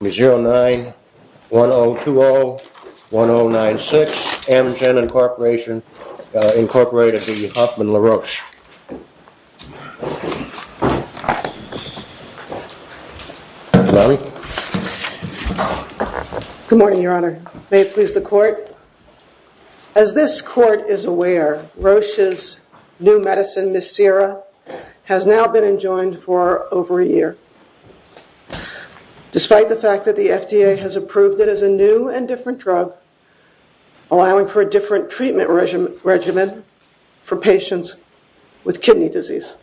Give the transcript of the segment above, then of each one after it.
Good morning, your honor. May it please the court. As this court is aware, Roche's new approved it as a new and different drug, allowing for a different treatment regimen for patients with kidney disease.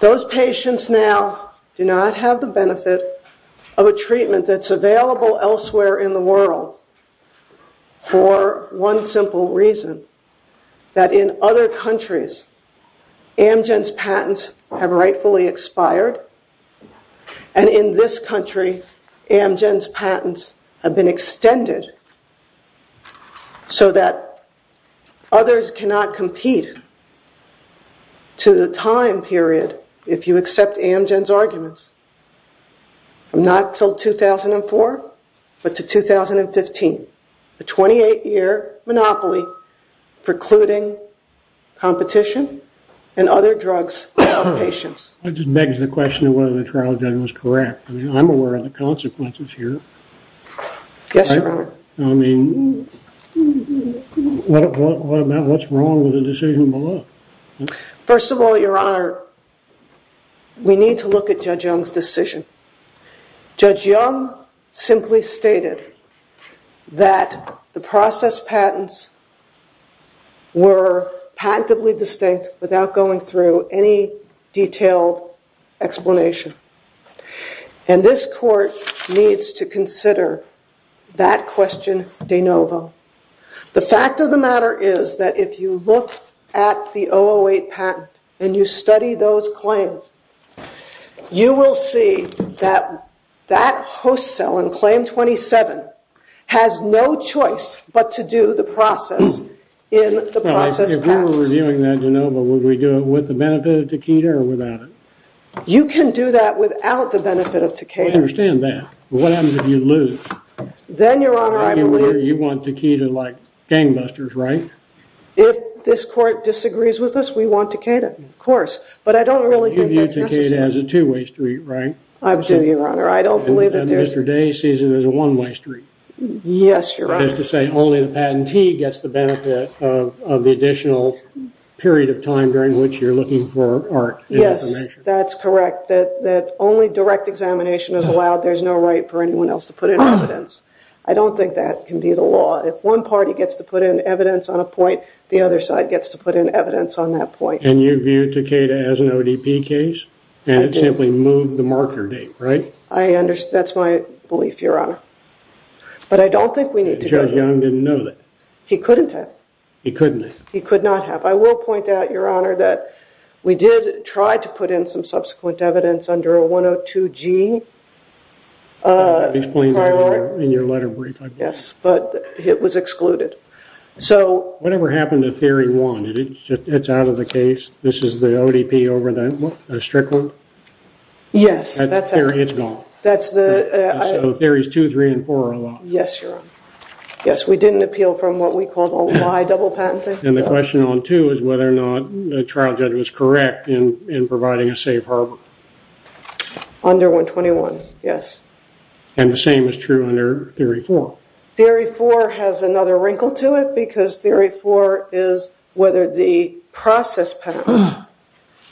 Those patients now do not have the benefit of a treatment that's available elsewhere in the world for one simple reason. That in other countries, Amgen's patents have rightfully expired and in this country, Amgen's patents have been extended so that others cannot compete to the time period if you accept Amgen's arguments. Not till 2004, but to 2015, a 28-year monopoly precluding competition and other drugs for patients. I just begs the question of whether the trial judge was correct. I mean, I'm aware of the consequences here. Yes, your honor. I mean, what's wrong with the decision below? First of all, your honor, we need to look at Judge Young's decision. Judge Young simply stated that the process patents were patently distinct without going through any detailed explanation. And this court needs to consider that question de novo. The fact of the matter is that if you look at the patent and you study those claims, you will see that that host cell in claim 27 has no choice but to do the process in the process of patent. If we were doing that de novo, would we do it with the benefit of taquita or without it? You can do that without the benefit of taquita. I understand that. What happens if you lose? Then, your honor, I believe... You want taquita like gangbusters, right? If this court disagrees with us, we want taquita, of course. But I don't really think that's necessary. You view taquita as a two-way street, right? I do, your honor. I don't believe that there's... And Mr. Day sees it as a one-way street. Yes, your honor. That is to say only the patentee gets the benefit of the additional period of time during which you're looking for art. Yes, that's correct. That only direct examination is allowed. There's no right for anyone else to put evidence. I don't think that can be the law. If one party gets to put in evidence on a point, the other side gets to put in evidence on that point. And you view taquita as an ODP case? And it simply moved the marker date, right? I understand. That's my belief, your honor. But I don't think we need to... Judge Young didn't know that. He couldn't have. He couldn't have. He could not have. I will point out, your honor, that we did try to put in some subsequent evidence under a 102G. I explained that in your letter brief, I believe. Yes, but it was excluded. So... Whatever happened to theory one? It's out of the case? This is the ODP over the strict one? Yes, that's... Theory is gone. That's the... So theories two, three, and four are allowed? Yes, your honor. Yes, we didn't appeal from what we call the law. I double patented. And the question on two is whether or not the trial judge was correct in providing a safe harbor. Under 121, yes. And the same is true under theory four? Theory four has another wrinkle to it, because theory four is whether the process patent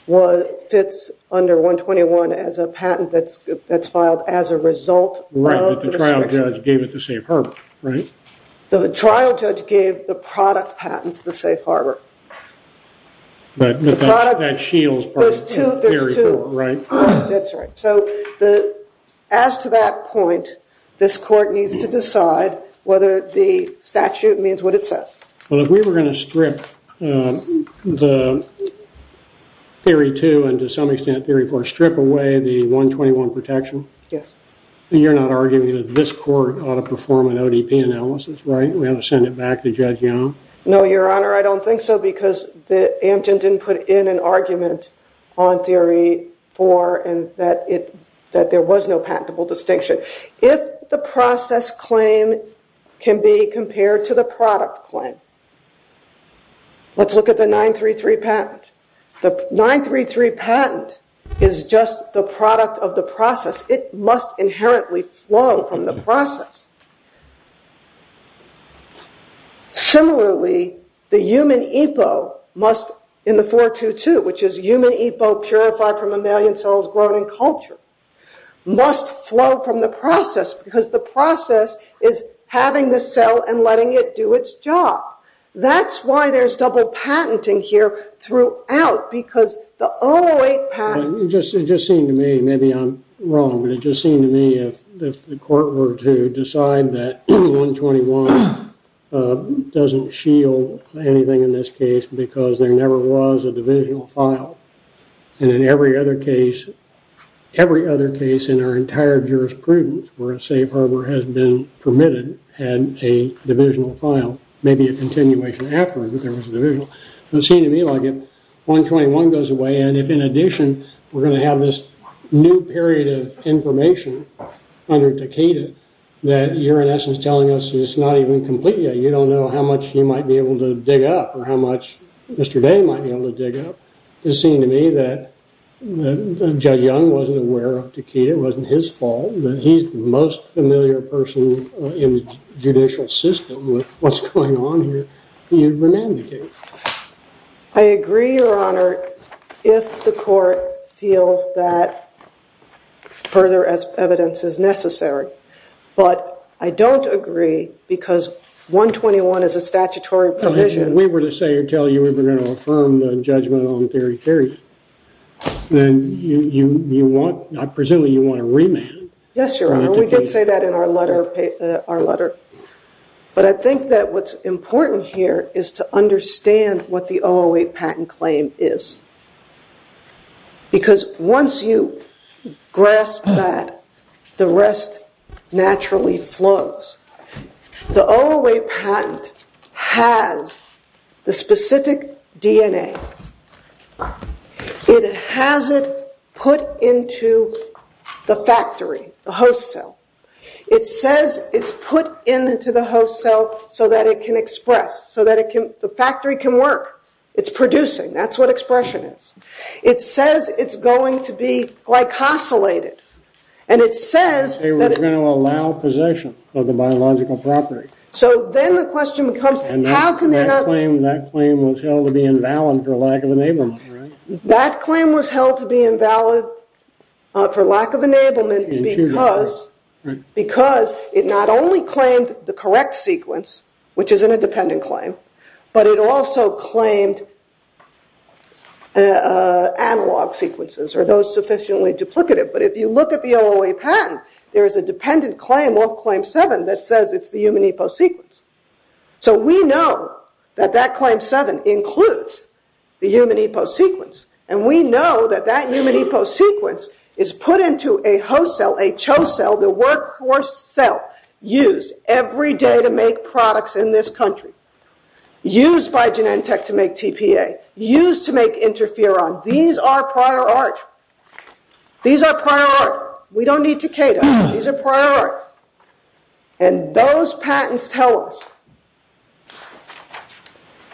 was... Fits under 121 as a patent that's filed as a result of... Right, but the trial judge gave it the safe harbor, right? The trial judge gave the product patents the safe harbor. But that shields part of theory four, right? That's right. So the... As to that point, this court needs to decide whether the statute means what it says. Well, if we were going to strip the theory two, and to some extent theory four, strip away the 121 protection... Yes. You're not arguing that this court ought to perform an ODP analysis, right? We ought to send it back to Judge Young? No, your honor. I don't think so, because the Amgen didn't put in an argument on theory four, and that it... That there was no patentable distinction. If the process claim can be compared to the product claim, let's look at the 933 patent. The 933 patent is just the product of the process. It must inherently flow from the process. Similarly, the human EPO must... In the 422, which is human EPO purified from mammalian cells, grown in culture, must flow from the process, because the process is having the cell and letting it do its job. That's why there's double patenting here throughout, because the 008 patent... It just seemed to me, maybe I'm wrong, but it just seemed to me if the court were to decide that 121 doesn't shield anything in this case, because there never was a divisional file, and in every other case, every other case in our entire jurisprudence where a safe harbor has been permitted had a divisional file, maybe a continuation afterward, but there was a divisional. It seemed to me like if 121 goes away, and if in addition we're going to have this new period of information under Takeda, that you're in essence telling us it's not even complete yet. You don't know how much you might be able to dig up, or how much Mr. Day might be able to dig up. It seemed to me that Judge Young wasn't aware of Takeda. It wasn't his fault, but he's the most familiar person in the judicial system with what's going on here. He remanded the case. I agree, Your Honor, if the court feels that further evidence is necessary, but I don't agree because 121 is a statutory provision. If we were to say or tell you we're going to affirm the judgment on theory, then you want... I'm presuming you want to remand. Yes, Your Honor. We did say that in our letter, but I think that what's important here is to understand what the OOA patent claim is. Because once you grasp that, the rest naturally flows. The OOA patent has the specific DNA. It has it put into the factory, the host cell. It says it's put into the host cell so that it can express, so that the factory can work. It's producing, that's what expression is. It says it's going to be glycosylated, and it says... They were going to allow possession of the biological property. So then the question becomes, how can they not... That claim was held to be invalid for lack of enablement, right? The correct sequence, which is in a dependent claim, but it also claimed analog sequences or those sufficiently duplicative. But if you look at the OOA patent, there is a dependent claim of claim seven that says it's the human eposequence. So we know that that claim seven includes the human eposequence, and we know that that human eposequence is put into a host cell, a CHO cell, the workforce cell used every day to make products in this country, used by Genentech to make TPA, used to make interferon. These are prior art. These are prior art. We don't need to cater. These are prior art. And those patents tell us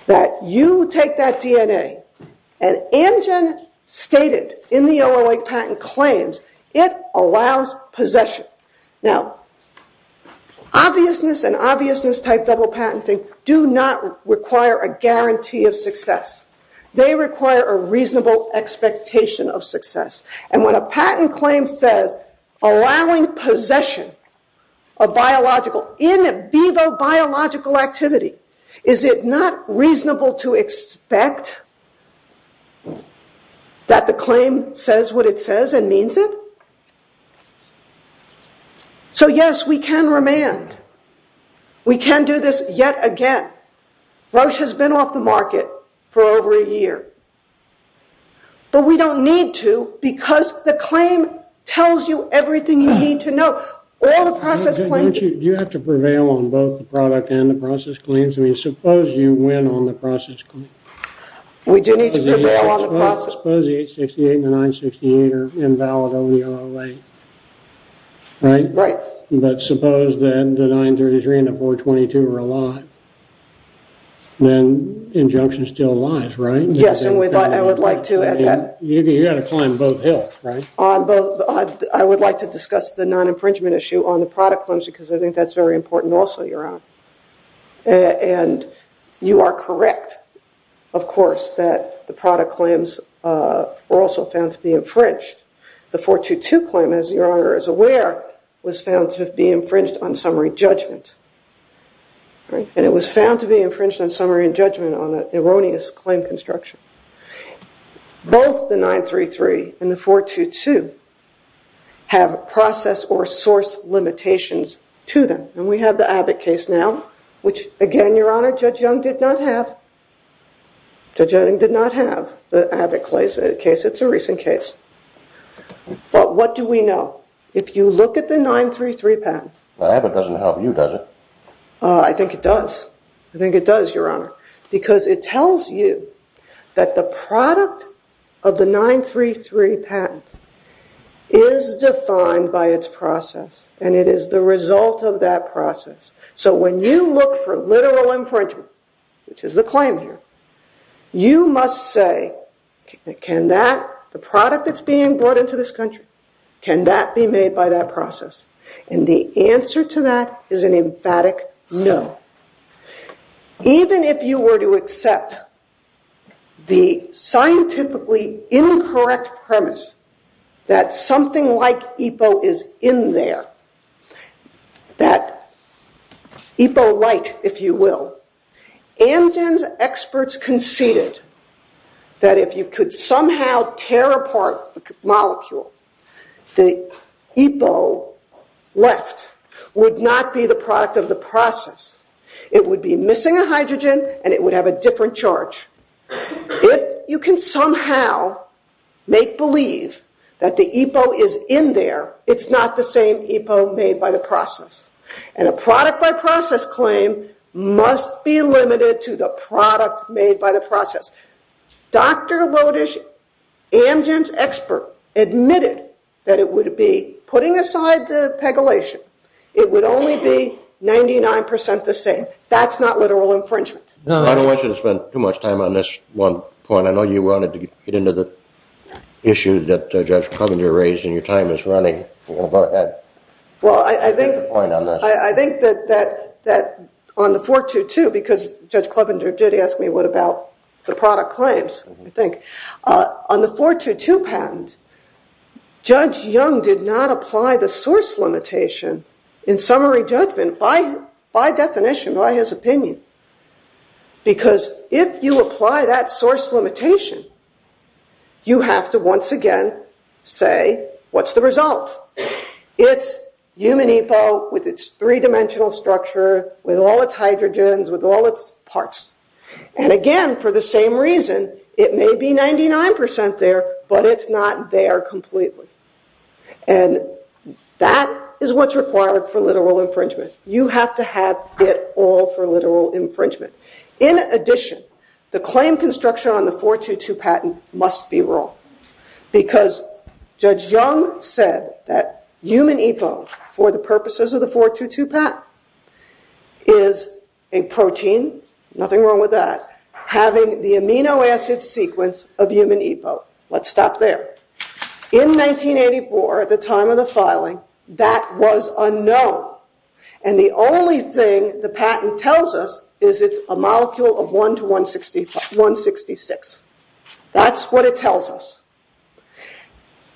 that you take that DNA, and Amgen stated in the OOA patent claims, it allows possession. Now, obviousness and obviousness-type double patenting do not require a guarantee of success. They require a reasonable expectation of success. And when a patent claim says allowing possession of biological, in vivo biological activity, is it not reasonable to expect that the claim says what it says and means it? So yes, we can remand. We can do this yet again. Roche has been off the market for over a year. But we don't need to, because the claim tells you everything you need to know. All the process claims- Don't you have to prevail on both the product and the process claims? I mean, suppose you win on the process claim. We do need to prevail on the process- Suppose 868 and 968 are invalid over the OOA, right? Right. But suppose that the 933 and the 422 are alive, then injunction still lies, right? Yes, and I would like to add that- You've got to climb both hills, right? I would like to discuss the non-infringement issue on the product claims, because I think that's very important also, Your Honor. And you are correct, of course, that the product claims were also found to be infringed. The 422 claim, as Your Honor is aware, was found to be infringed on summary judgment, right? And it was found to be infringed on summary judgment on an erroneous claim construction. Both the 933 and the 422 have process or source limitations to them. And we have the Abbott case now, which again, Your Honor, Judge Young did not have. Judge Young did not have the Abbott case. It's a recent case. But what do we know? If you look at the 933 patent- The Abbott doesn't help you, does it? I think it does. I think it does, Your Honor. Because it tells you that the product of the 933 patent is defined by its process, and it is the result of that process. So when you look for literal infringement, which is the claim here, you must say, can that, the product that's being brought into this country, can that be made by that process? And the answer to that is an emphatic no. Even if you were to accept the scientifically incorrect premise that something like EPO is in there, that EPO light, if you will, Amgen's experts conceded that if you could somehow tear apart the molecule, the EPO left would not be the product of the process. It would be missing a hydrogen, and it would have a different charge. If you can somehow make believe that the EPO is in there, it's not the same EPO made by the process. And a product by process claim must be limited to the product made by the process. Dr. Lodish, Amgen's expert, admitted that it would be, putting aside the pegylation, it would only be 99% the same. That's not literal infringement. I don't want you to spend too much time on this one point. I know you wanted to get into the issue that Judge Clevenger raised, and your time is running. Well, I think that on the 422, because Judge Clevenger did ask me what about the product claims, I think, on the 422 patent, Judge Young did not apply the source limitation in summary judgment by definition, by his opinion. Because if you apply that source limitation, you have to once again say, what's the result? It's human EPO with its three-dimensional structure, with all its hydrogens, with all its parts. And again, for the same reason, it may be 99% there, but it's not there completely. And that is what's required for literal infringement. You have to have it all for literal infringement. In addition, the claim construction on the 422 patent must be wrong. Because Judge Young said that human EPO, for the purposes of the 422 patent, is a protein, nothing wrong with that, having the amino acid sequence of human EPO. Let's stop there. In 1984, at the time of the filing, that was unknown. And the only thing the patent tells us is it's a molecule of 1 to 166. That's what it tells us.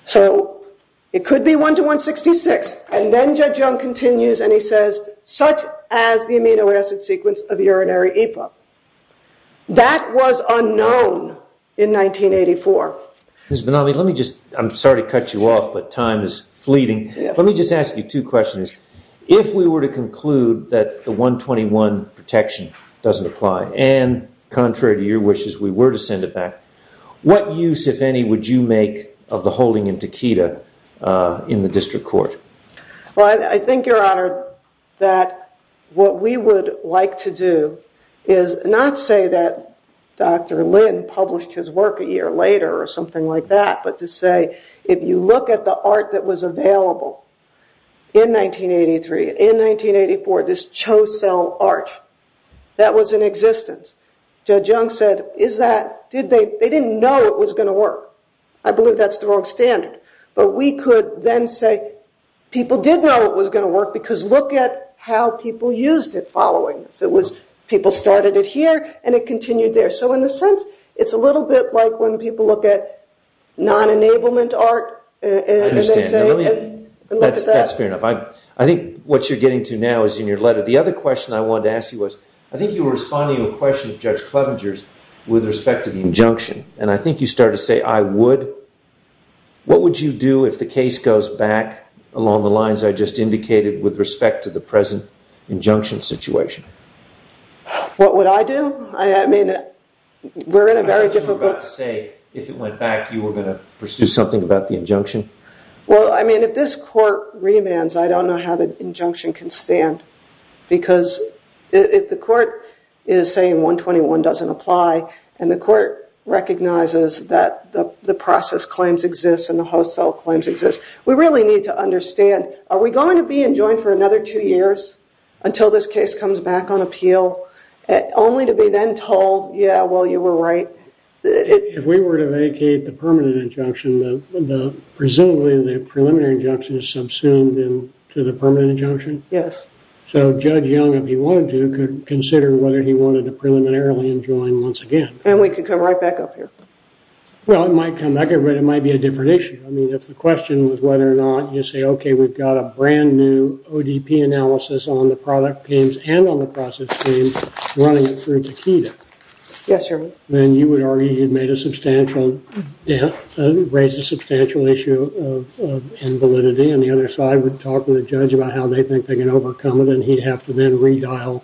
So it could be 1 to 166. And then Judge Young continues, and he says, such as the amino acid sequence of urinary EPO. That was unknown in 1984. Ms. Bonami, let me just, I'm sorry to cut you off, but time is fleeting. Let me just ask you two questions. If we were to conclude that the 121 protection doesn't apply, and contrary to your wishes, we were to send it back, what use, if any, would you make of the holding in Takeda in the district court? Well, I think, Your Honor, that what we would like to do is not say that Dr. Lin published his work a year later or something like that, but to say, if you look at the art that was available in 1983, in 1984, this Cho Cell art, that was in existence. Judge Young said, is that, did they, they didn't know it was going to work. I believe that's the wrong standard. But we could then say, people did know it was going to work because look at how people used it following this. It was, people started it here and it continued there. So in a sense, it's a little bit like when people look at non-enablement art. I understand. That's fair enough. I think what you're getting to now is in your letter. The other question I wanted to ask you was, I think you were responding to a question of Judge Clevenger's with respect to the injunction. And I think you started to say, I would. What would you do if the case goes back along the lines I just indicated with respect to the present injunction situation? What would I do? I mean, we're in a very difficult... I was about to say, if it went back, you were going to pursue something about the injunction? Well, I mean, if this court remands, I don't know how the injunction can stand. Because if the court is saying 121 doesn't apply and the court recognizes that the process claims exist and the host cell claims exist, we really need to understand, are we going to be enjoined for another two years until this case comes back on appeal? Only to be then told, yeah, well, you were right. If we were to vacate the permanent injunction, presumably the preliminary injunction is subsumed into the permanent injunction. Yes. So Judge Young, if he wanted to, could consider whether he wanted to preliminarily enjoin once again. And we could come right back up here. Well, it might come back, but it might be a different issue. I mean, if the question was whether or not you say, okay, we've got a brand new ODP analysis on the product claims and on the process claims running through Takeda. Yes, Your Honor. Then you would argue you'd made a substantial, raised a substantial issue of invalidity, and the other side would talk to the judge about how they think they can overcome it, and he'd have to then redial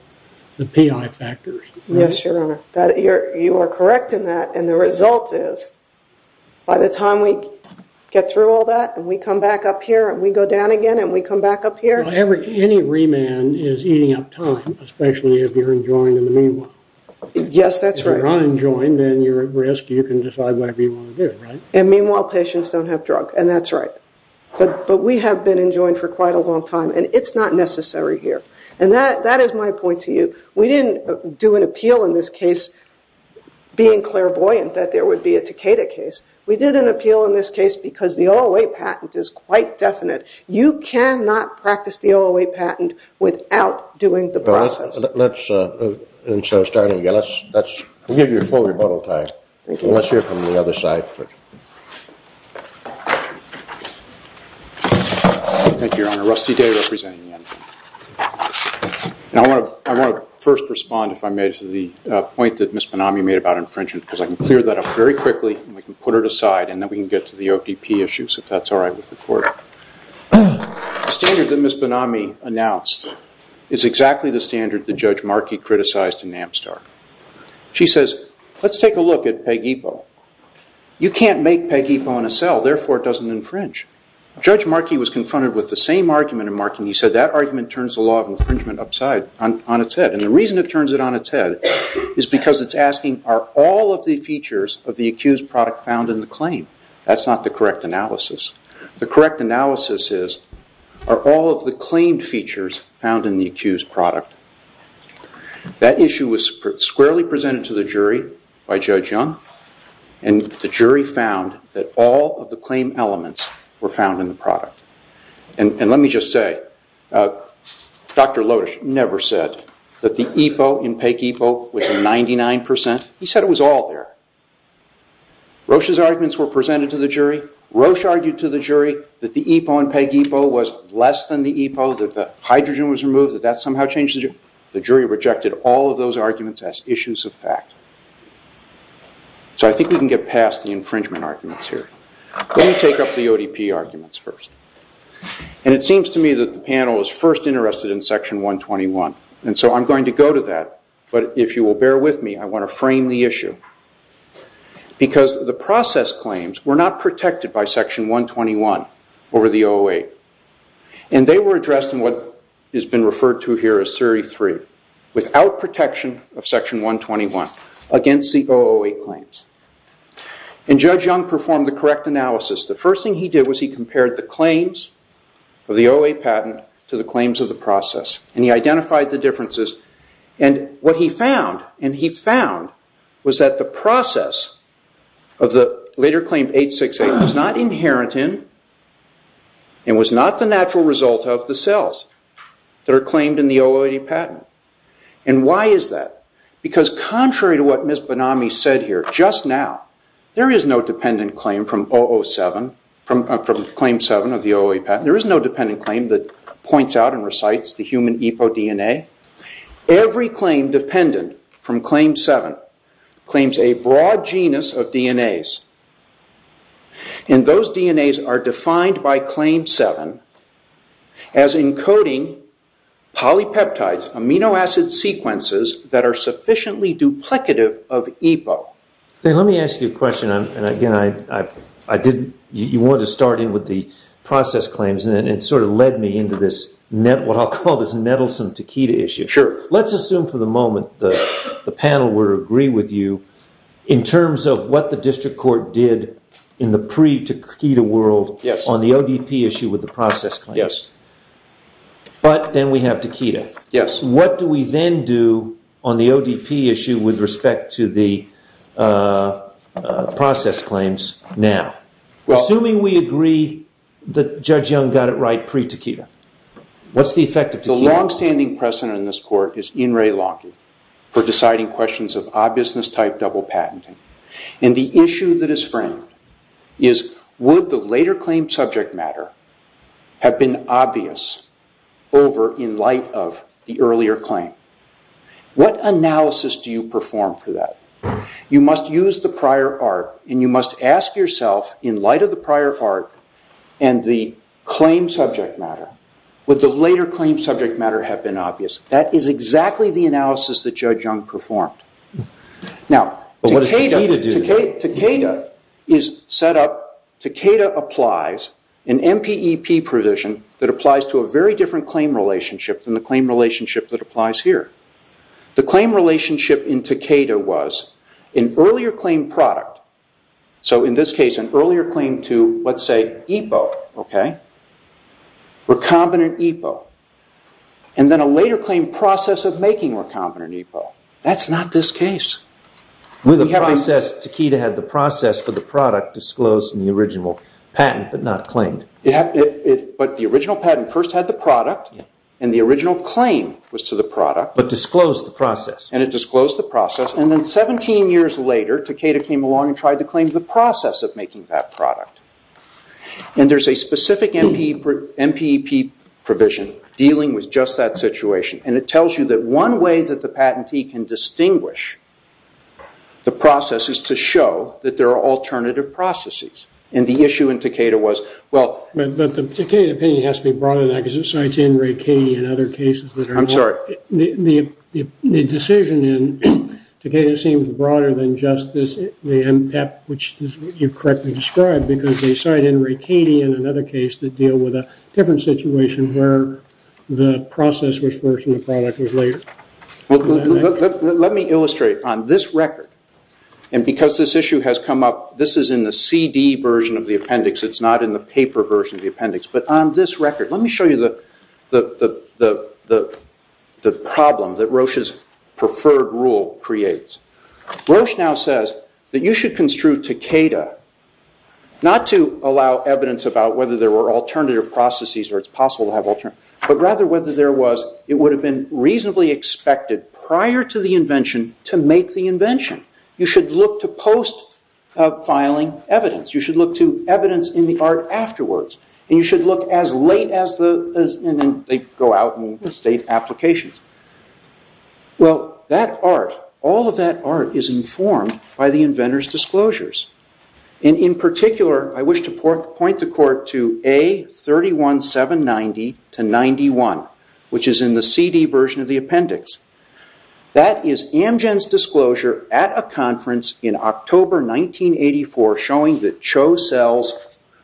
the PI factors. Yes, Your Honor. You are correct in that. And the result is, by the time we get through all that, and we come back up here, and we go down again, and we come back up here. Well, any remand is eating up time, especially if you're enjoined in the meanwhile. Yes, that's right. If you're not enjoined and you're at risk, you can decide whatever you want to do, right? And meanwhile, patients don't have drug, and that's right. But we have been enjoined for quite a long time, and it's not necessary here. And that is my point to you. We didn't do an appeal in this case being clairvoyant that there would be a Takeda case. We did an appeal in this case because the OOA patent is quite definite. You cannot practice the OOA patent without doing the process. Let's, instead of starting again, let's give you full rebuttal time. Let's hear from the other side. Thank you, Your Honor. Rusty Day representing me. And I want to first respond, if I may, to the point that Ms. Benami made about infringement, because I can clear that up very quickly, and we can put it aside, and then we can get to the OTP issues, if that's all right with the Court. The standard that Ms. Benami announced is exactly the standard that Judge Markey criticized in Amstar. She says, let's take a look at PEG-EPO. You can't make PEG-EPO in a cell. Therefore, it doesn't infringe. Judge Markey was confronted with the same argument in Markey, and he said, that argument turns the law of infringement upside, on its head. And the reason it turns it on its head is because it's asking, are all of the features of the accused product found in the claim? That's not the correct analysis. The correct analysis is, are all of the claimed features found in the accused product? That issue was squarely presented to the jury by Judge Young, and the jury found that all of the claim elements were found in the product. And let me just say, Dr. Lodish never said that the EPO in PEG-EPO was 99%. He said it was all there. Roche's arguments were presented to the jury. Roche argued to the jury that the EPO in PEG-EPO was less than the EPO, that the hydrogen was removed, that that somehow changed the jury. The jury rejected all of those arguments as issues of fact. So I think we can get past the infringement arguments here. Let me take up the ODP arguments first. And it seems to me that the panel is first interested in section 121. And so I'm going to go to that. But if you will bear with me, I want to frame the issue. Because the process claims were not protected by section 121 over the 008. And they were addressed in what has been referred to here as series three, without protection of section 121 against the 008 claims. And Judge Young performed the correct analysis. The first thing he did was he compared the claims of the 08 patent to the claims of the process. And he identified the differences. And what he found, and he found, was that the process of the later claim 868 was not inherent in, and was not the natural result of, the cells that are claimed in the 008 patent. And why is that? Because contrary to what Ms. Bonami said here just now, there is no dependent claim from 007, from claim seven of the 008 patent. There is no dependent claim that points out and recites the human EPO DNA. Every claim dependent from claim seven claims a broad genus of DNAs. And those DNAs are defined by claim seven as encoding polypeptides, amino acid sequences, that are sufficiently duplicative of EPO. Then let me ask you a question. And again, you wanted to start in with the process claims. It sort of led me into this net, what I'll call this nettlesome taquita issue. Sure. Let's assume for the moment the panel were to agree with you in terms of what the district court did in the pre-taquita world on the ODP issue with the process claims. Yes. But then we have taquita. Yes. What do we then do on the ODP issue with respect to the process claims now? Well, assuming we agree that Judge Young got it right pre-taquita, what's the effect of taquita? The longstanding precedent in this court is In re Lanque for deciding questions of obviousness type double patenting. And the issue that is framed is would the later claimed subject matter have been obvious over in light of the earlier claim? What analysis do you perform for that? You must use the prior art. And you must ask yourself in light of the prior art and the claim subject matter, would the later claim subject matter have been obvious? That is exactly the analysis that Judge Young performed. Now, taquita is set up. Taquita applies an MPEP provision that applies to a very different claim relationship than the claim relationship that applies here. The claim relationship in taquita was an earlier claim product. So in this case, an earlier claim to, let's say, EPO, recombinant EPO. And then a later claim process of making recombinant EPO. That's not this case. Taquita had the process for the product disclosed in the original patent, but not claimed. But the original patent first had the product. And the original claim was to the product. But disclosed the process. And it disclosed the process. And then 17 years later, taquita came along and tried to claim the process of making that product. And there's a specific MPEP provision dealing with just that situation. And it tells you that one way that the patentee can distinguish the process is to show that there are alternative processes. And the issue in taquita was, well. But the taquita opinion has to be brought to that, because it cites Enrique and other cases that are involved. I'm sorry. The decision in taquita seems broader than just the MPEP, which is what you've correctly described. Because they cite Enrique and another case that deal with a different situation where the process was first and the product was later. Let me illustrate. On this record, and because this issue has come up, this is in the CD version of the appendix. It's not in the paper version of the appendix. But on this record, let me show you the problem that Roche's preferred rule creates. Roche now says that you should construe taquita not to allow evidence about whether there were alternative processes, or it's possible to have alternative, but rather whether there was, it would have been reasonably expected prior to the invention to make the invention. You should look to post-filing evidence. You should look to evidence in the art afterwards. You should look as late as the, and then they go out and state applications. Well, that art, all of that art is informed by the inventor's disclosures. In particular, I wish to point the court to A31790-91, which is in the CD version of the appendix. That is Amgen's disclosure at a conference in October 1984 showing that CHO cells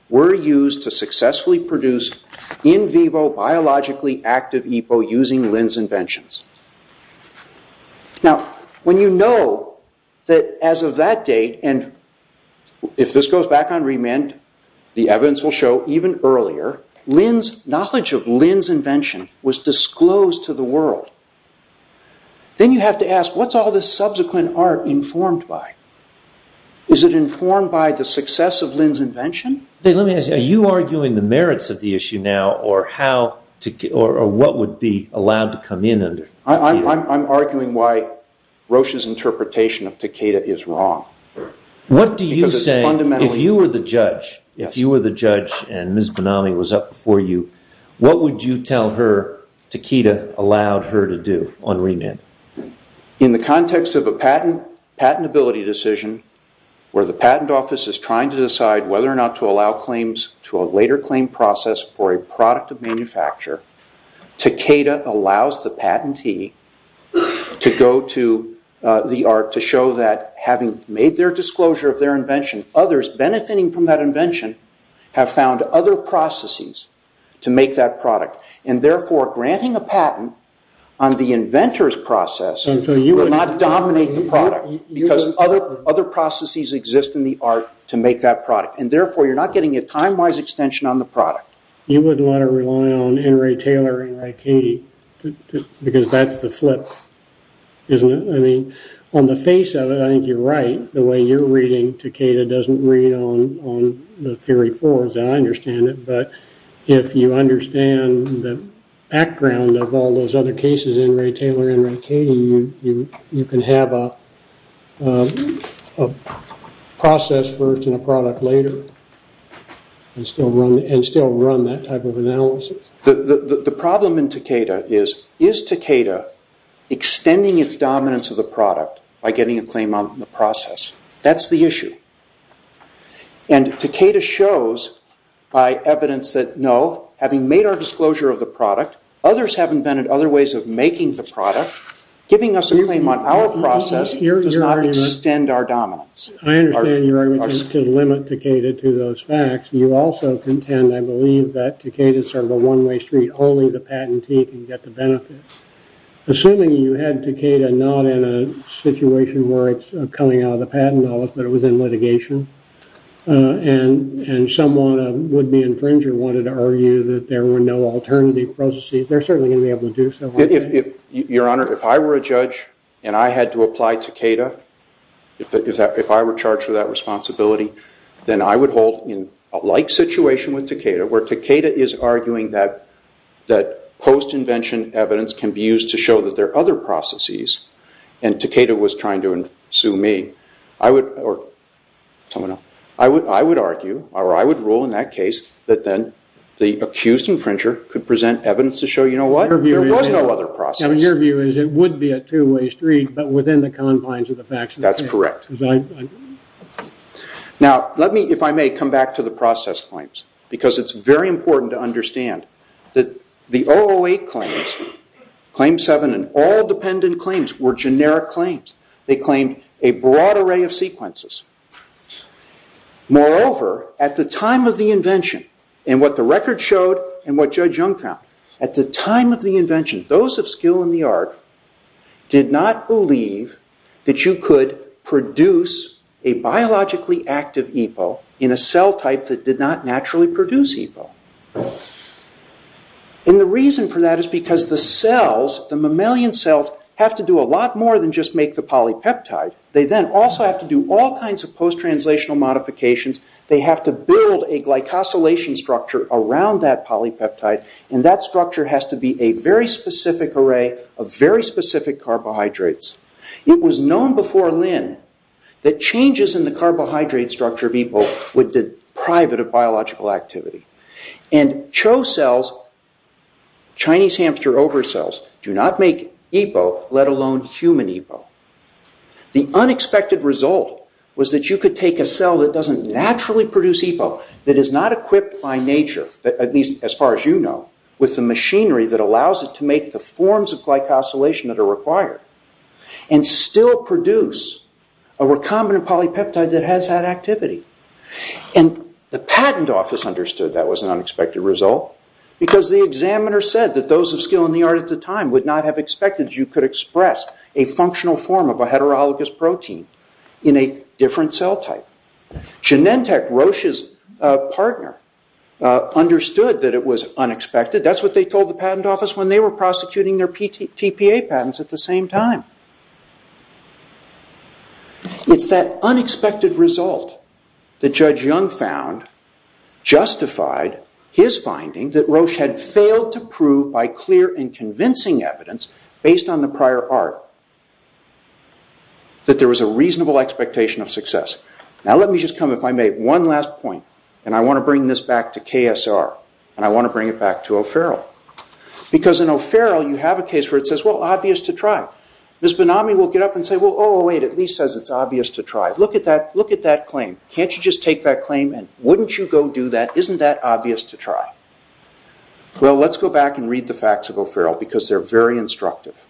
were used to successfully produce in vivo biologically active EPO using Lin's inventions. Now, when you know that as of that date, and if this goes back on remit, the evidence will show even earlier, Lin's, knowledge of Lin's invention was disclosed to the world. Then you have to ask, what's all this subsequent art informed by? Let me ask you, are you arguing the merits of the issue now, or how, or what would be allowed to come in? I'm arguing why Roche's interpretation of Takeda is wrong. What do you say, if you were the judge, if you were the judge and Ms. Benami was up before you, what would you tell her Takeda allowed her to do on remit? In the context of a patentability decision, where the patent office is trying to decide whether or not to allow claims to a later claim process for a product of manufacture, Takeda allows the patentee to go to the art to show that having made their disclosure of their invention, others benefiting from that invention have found other processes to make that product. And therefore, granting a patent on the inventor's process will not dominate the product, because other processes exist in the art to make that product. And therefore, you're not getting a time-wise extension on the product. You wouldn't want to rely on N. Ray Taylor, N. Ray Katie, because that's the flip, isn't it? I mean, on the face of it, I think you're right. The way you're reading Takeda doesn't read on the theory forwards, and I understand it. But if you understand the background of all those other cases, N. Ray Taylor, N. Ray Katie, you can have a process first and a product later, and still run that type of analysis. The problem in Takeda is, is Takeda extending its dominance of the product by getting a claim on the process? That's the issue. And Takeda shows by evidence that, no, having made our disclosure of the product, others have invented other ways of making the product, giving us a claim on our process does not extend our dominance. I understand you're trying to limit Takeda to those facts. You also contend, I believe, that Takeda is sort of a one-way street. Only the patentee can get the benefits. Assuming you had Takeda not in a situation where it's coming out of the patent office, but it was in litigation, and someone, a would-be infringer, wanted to argue that there were no alternative processes, they're certainly going to be able to do so. Your Honor, if I were a judge, and I had to apply Takeda, if I were charged with that responsibility, then I would hold, in a like situation with Takeda, where Takeda is arguing that post-invention evidence can be used to show that there are other processes, and Takeda was trying to sue me, I would argue, or I would rule in that case, that then the accused infringer could present evidence to show, you know what, there was no other process. Your view is it would be a two-way street, but within the confines of the facts. That's correct. Now, let me, if I may, come back to the process claims, because it's very important to understand that the 008 claims, Claim 7 and all dependent claims, were generic claims. They claimed a broad array of sequences. Moreover, at the time of the invention, and what the record showed, and what Judge Young found, at the time of the invention, those of skill in the art did not believe that you could produce a biologically active EPO in a cell type that did not naturally produce EPO. The reason for that is because the cells, the mammalian cells, have to do a lot more than just make the polypeptide. They then also have to do all kinds of post-translational modifications. They have to build a glycosylation structure around that polypeptide, and that structure has to be a very specific array of very specific carbohydrates. It was known before Lin that changes in the carbohydrate structure of EPO would deprive it of biological activity. And Cho cells, Chinese hamster over cells, do not make EPO, let alone human EPO. The unexpected result was that you could take a cell that does not naturally produce EPO, that is not equipped by nature, at least as far as you know, with the machinery that allows it to make the forms of glycosylation that are required, and still produce a recombinant polypeptide that has that activity. And the patent office understood that was an unexpected result because the examiner said that those of skill in the art at the time would not have expected that you could express a functional form of a heterologous protein in a different cell type. Genentech, Roche's partner, understood that it was unexpected. That's what they told the patent office when they were prosecuting their TPA patents at the same time. It's that unexpected result that Judge Young found justified his finding that Roche had proved by clear and convincing evidence, based on the prior art, that there was a reasonable expectation of success. Now let me just come, if I may, one last point. And I want to bring this back to KSR. And I want to bring it back to O'Farrell. Because in O'Farrell you have a case where it says, well, obvious to try. Ms. Benami will get up and say, well, oh, wait, it at least says it's obvious to try. Look at that claim. Can't you just take that claim and wouldn't you go do that? Isn't that obvious to try? Well, let's go back and read the facts of O'Farrell, because they're very instructive.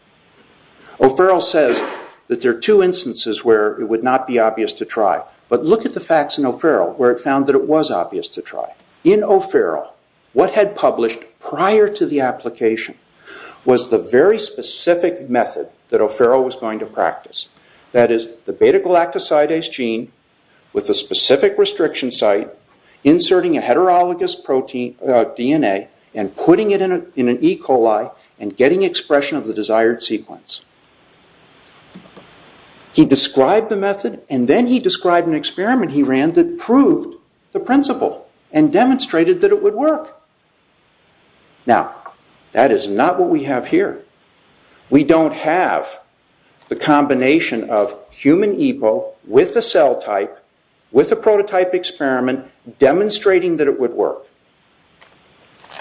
O'Farrell says that there are two instances where it would not be obvious to try. But look at the facts in O'Farrell, where it found that it was obvious to try. In O'Farrell, what had published prior to the application was the very specific method that O'Farrell was going to practice. That is, the beta-galactosidase gene with a specific restriction site, inserting a heterologous DNA and putting it in an E. coli and getting expression of the desired sequence. He described the method, and then he described an experiment he ran that proved the principle and demonstrated that it would work. Now, that is not what we have here. We don't have the combination of human EPO with a cell type, with a prototype experiment, demonstrating that it would work.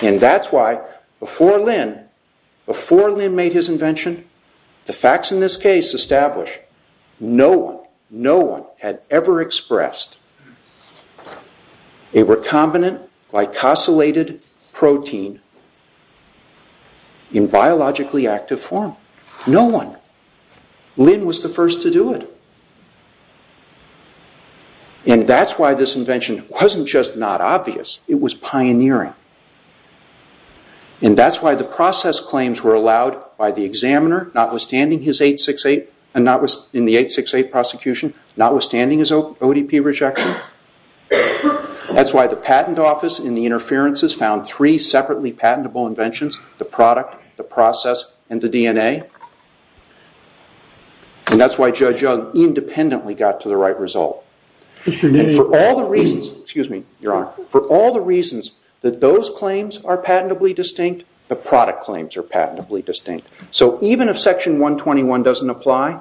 And that's why, before Lin made his invention, the facts in this case establish no one, no one had ever expressed a recombinant glycosylated protein in biologically active form. No one. Lin was the first to do it. And that's why this invention wasn't just not obvious, it was pioneering. And that's why the process claims were allowed by the examiner, notwithstanding his 868, and notwithstanding the 868 prosecution, notwithstanding his ODP rejection. That's why the patent office in the interferences found three separately patentable inventions, the product, the process, and the DNA. And that's why Judge Young independently got to the right result. And for all the reasons, excuse me, your honor, for all the reasons that those claims are patentably distinct, the product claims are patentably distinct. So even if section 121 doesn't apply,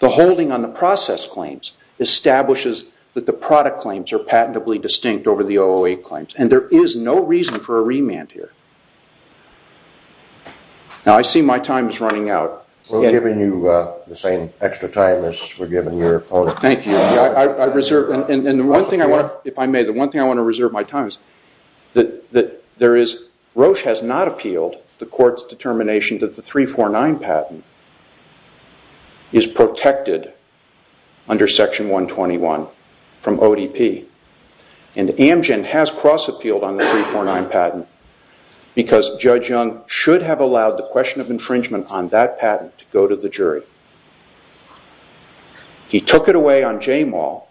the holding on the process claims establishes that the product claims are patentably distinct over the OOA claims. And there is no reason for a remand here. Now, I see my time is running out. We're giving you the same extra time as we're giving your opponent. Thank you. I reserve, and the one thing I want to, if I may, the one thing I want to reserve my time is that there is, Roche has not appealed the court's determination that the 349 patent is protected under section 121 from ODP, and Amgen has cross-appealed on the 349 patent. Because Judge Young should have allowed the question of infringement on that patent to go to the jury. He took it away on Jamal,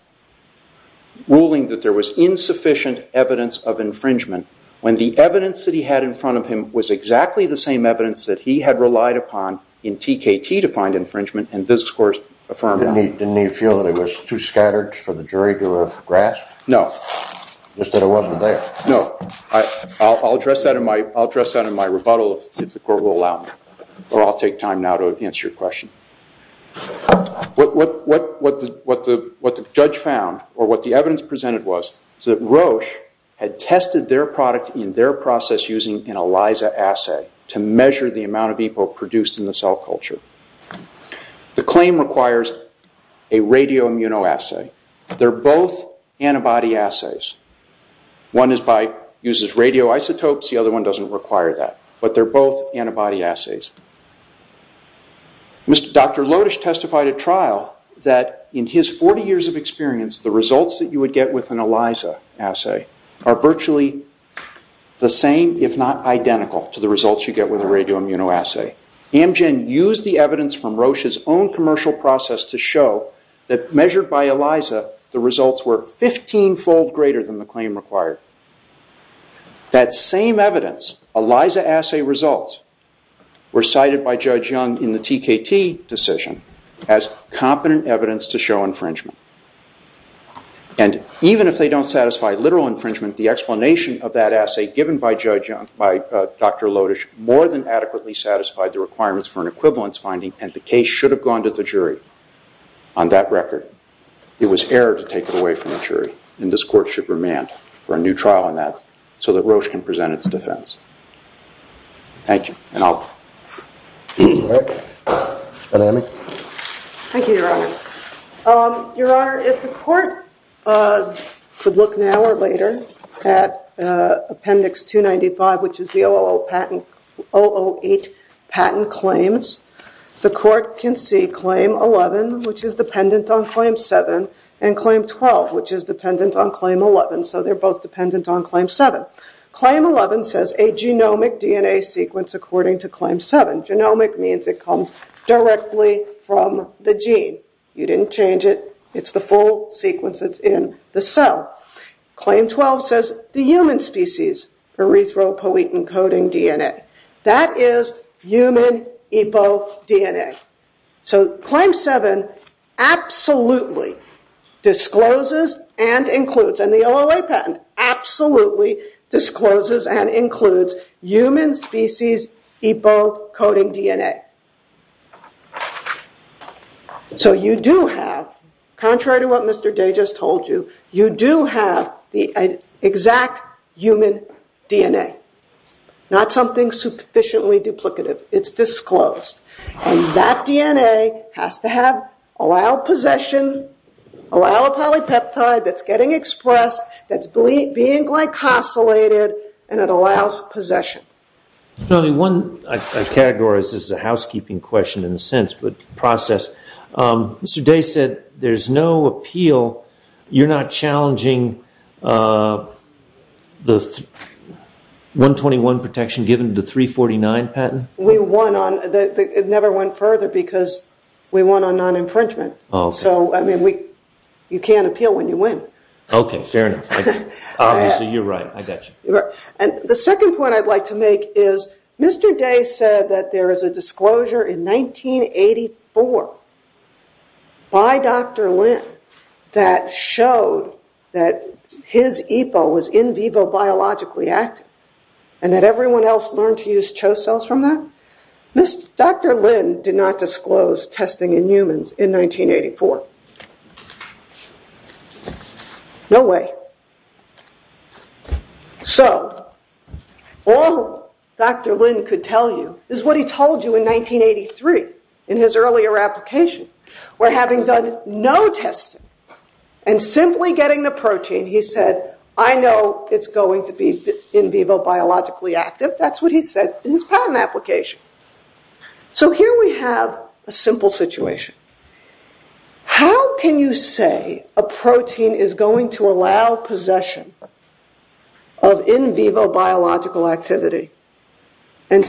ruling that there was insufficient evidence of infringement, when the evidence that he had in front of him was exactly the same evidence that he had relied upon in TKT to find infringement, and this court affirmed that. Didn't he feel that it was too scattered for the jury to have grasped? No. Just that it wasn't there. No. I'll address that in my rebuttal, if the court will allow me, or I'll take time now to answer your question. What the judge found, or what the evidence presented was, is that Roche had tested their product in their process using an ELISA assay to measure the amount of EPO produced in the cell culture. The claim requires a radioimmunoassay. They're both antibody assays. One uses radioisotopes. The other one doesn't require that, but they're both antibody assays. Dr. Lodish testified at trial that in his 40 years of experience, the results that you would get with an ELISA assay are virtually the same, if not identical, to the results you get with a radioimmunoassay. Amgen used the evidence from Roche's own commercial process to show that measured by ELISA, the results were 15-fold greater than the claim required. That same evidence, ELISA assay results, were cited by Judge Young in the TKT decision as competent evidence to show infringement. And even if they don't satisfy literal infringement, the explanation of that assay given by Judge Young, by Dr. Lodish, more than adequately satisfied the requirements for an equivalence finding, and the case should have gone to the jury. On that record, it was error to take it away from the jury, and this court should remand for a new trial on that, so that Roche can present its defense. Thank you, and I'll... Thank you, Your Honor. Your Honor, if the court could look now or later at Appendix 295, which is the 008 patent claims, the court can see Claim 11, which is dependent on Claim 7, and Claim 12, which is dependent on Claim 11, so they're both dependent on Claim 7. Claim 11 says a genomic DNA sequence according to Claim 7. Genomic means it comes directly from the gene. You didn't change it. It's the full sequence that's in the cell. Claim 12 says the human species, erythropoietin-coding DNA. That is human epo-DNA. So Claim 7 absolutely discloses and includes, and the 008 patent absolutely discloses and includes human species epo-coding DNA. So you do have, contrary to what Mr. Day just told you, you do have the exact human DNA. Not something sufficiently duplicative. It's disclosed. And that DNA has to have, allow possession, allow a polypeptide that's getting expressed, that's being glycosylated, and it allows possession. Only one category, this is a housekeeping question in a sense, but process. Mr. Day said there's no appeal. You're not challenging the 121 protection given to 349 patent? We won on, it never went further because we won on non-infringement. So, I mean, you can't appeal when you win. Okay, fair enough. Obviously, you're right. I got you. And the second point I'd like to make is, Mr. Day said that there is a disclosure in 1984 by Dr. Lin that showed that his epo was in vivo biologically active and that everyone else learned to use CHO cells from that. Dr. Lin did not disclose testing in humans in 1984. No way. So, all Dr. Lin could tell you is what he told you in 1983 in his earlier application, where having done no testing and simply getting the protein, he said, I know it's going to be in vivo biologically active. That's what he said in his patent application. So, here we have a simple situation. How can you say a protein is going to allow possession of in vivo biological activity and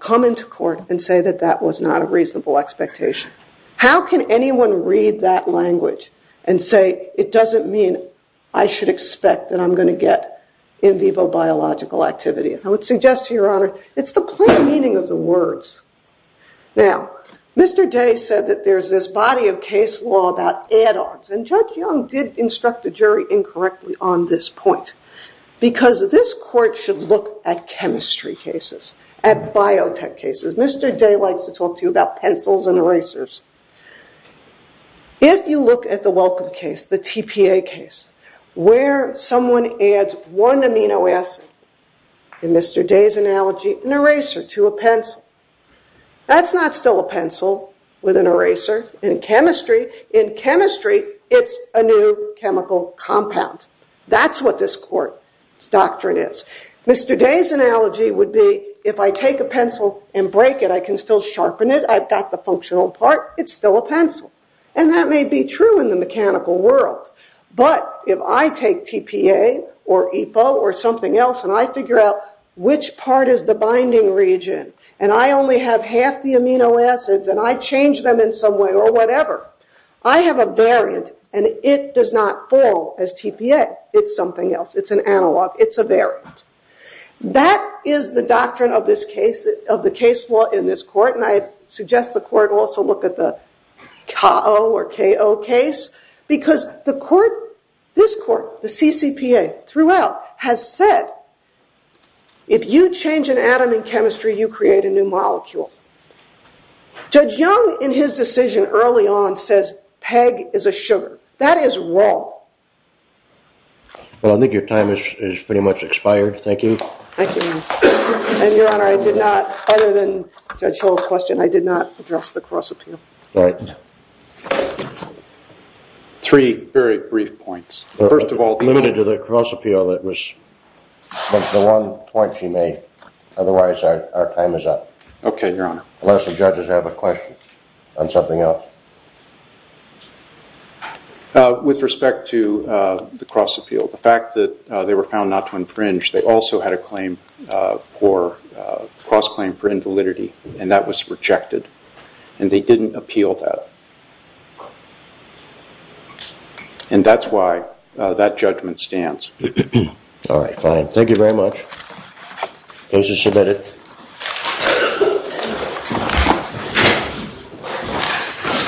come into court and say that that was not a reasonable expectation? How can anyone read that language and say, it doesn't mean I should expect that I'm going to get in vivo biological activity? I would suggest to your honor, it's the plain meaning of the words. Now, Mr. Day said that there's this body of case law about add-ons. And Judge Young did instruct the jury incorrectly on this point because this court should look at chemistry cases, at biotech cases. Mr. Day likes to talk to you about pencils and erasers. If you look at the Welcome case, the TPA case, where someone adds one amino acid, in Mr. Day's analogy, an eraser to a pencil. That's not still a pencil with an eraser in chemistry. In chemistry, it's a new chemical compound. That's what this court's doctrine is. Mr. Day's analogy would be, if I take a pencil and break it, I can still sharpen it. I've got the functional part. It's still a pencil. And that may be true in the mechanical world. But if I take TPA or EPO or something else, and I figure out which part is the binding region, and I only have half the amino acids, and I change them in some way or whatever, I have a variant. And it does not fall as TPA. It's something else. It's an analog. It's a variant. That is the doctrine of the case law in this court. And I suggest the court also look at the KO or KO case. Because this court, the CCPA throughout, has said, if you change an atom in chemistry, you create a new molecule. Judge Young, in his decision early on, says PEG is a sugar. That is wrong. Well, I think your time has pretty much expired. Thank you. Thank you, Your Honor. And Your Honor, I did not, other than Judge Hill's question, I did not address the cross-appeal. All right. Three very brief points. First of all, the- Limited to the cross-appeal, that was the one point she made. Otherwise, our time is up. Okay, Your Honor. Unless the judges have a question on something else. With respect to the cross-appeal, the fact that they were found not to infringe, they also had a claim for, cross-claim for invalidity. And that was rejected. And they didn't appeal that. And that's why that judgment stands. All right, fine. Thank you very much. Case is submitted. Thank you.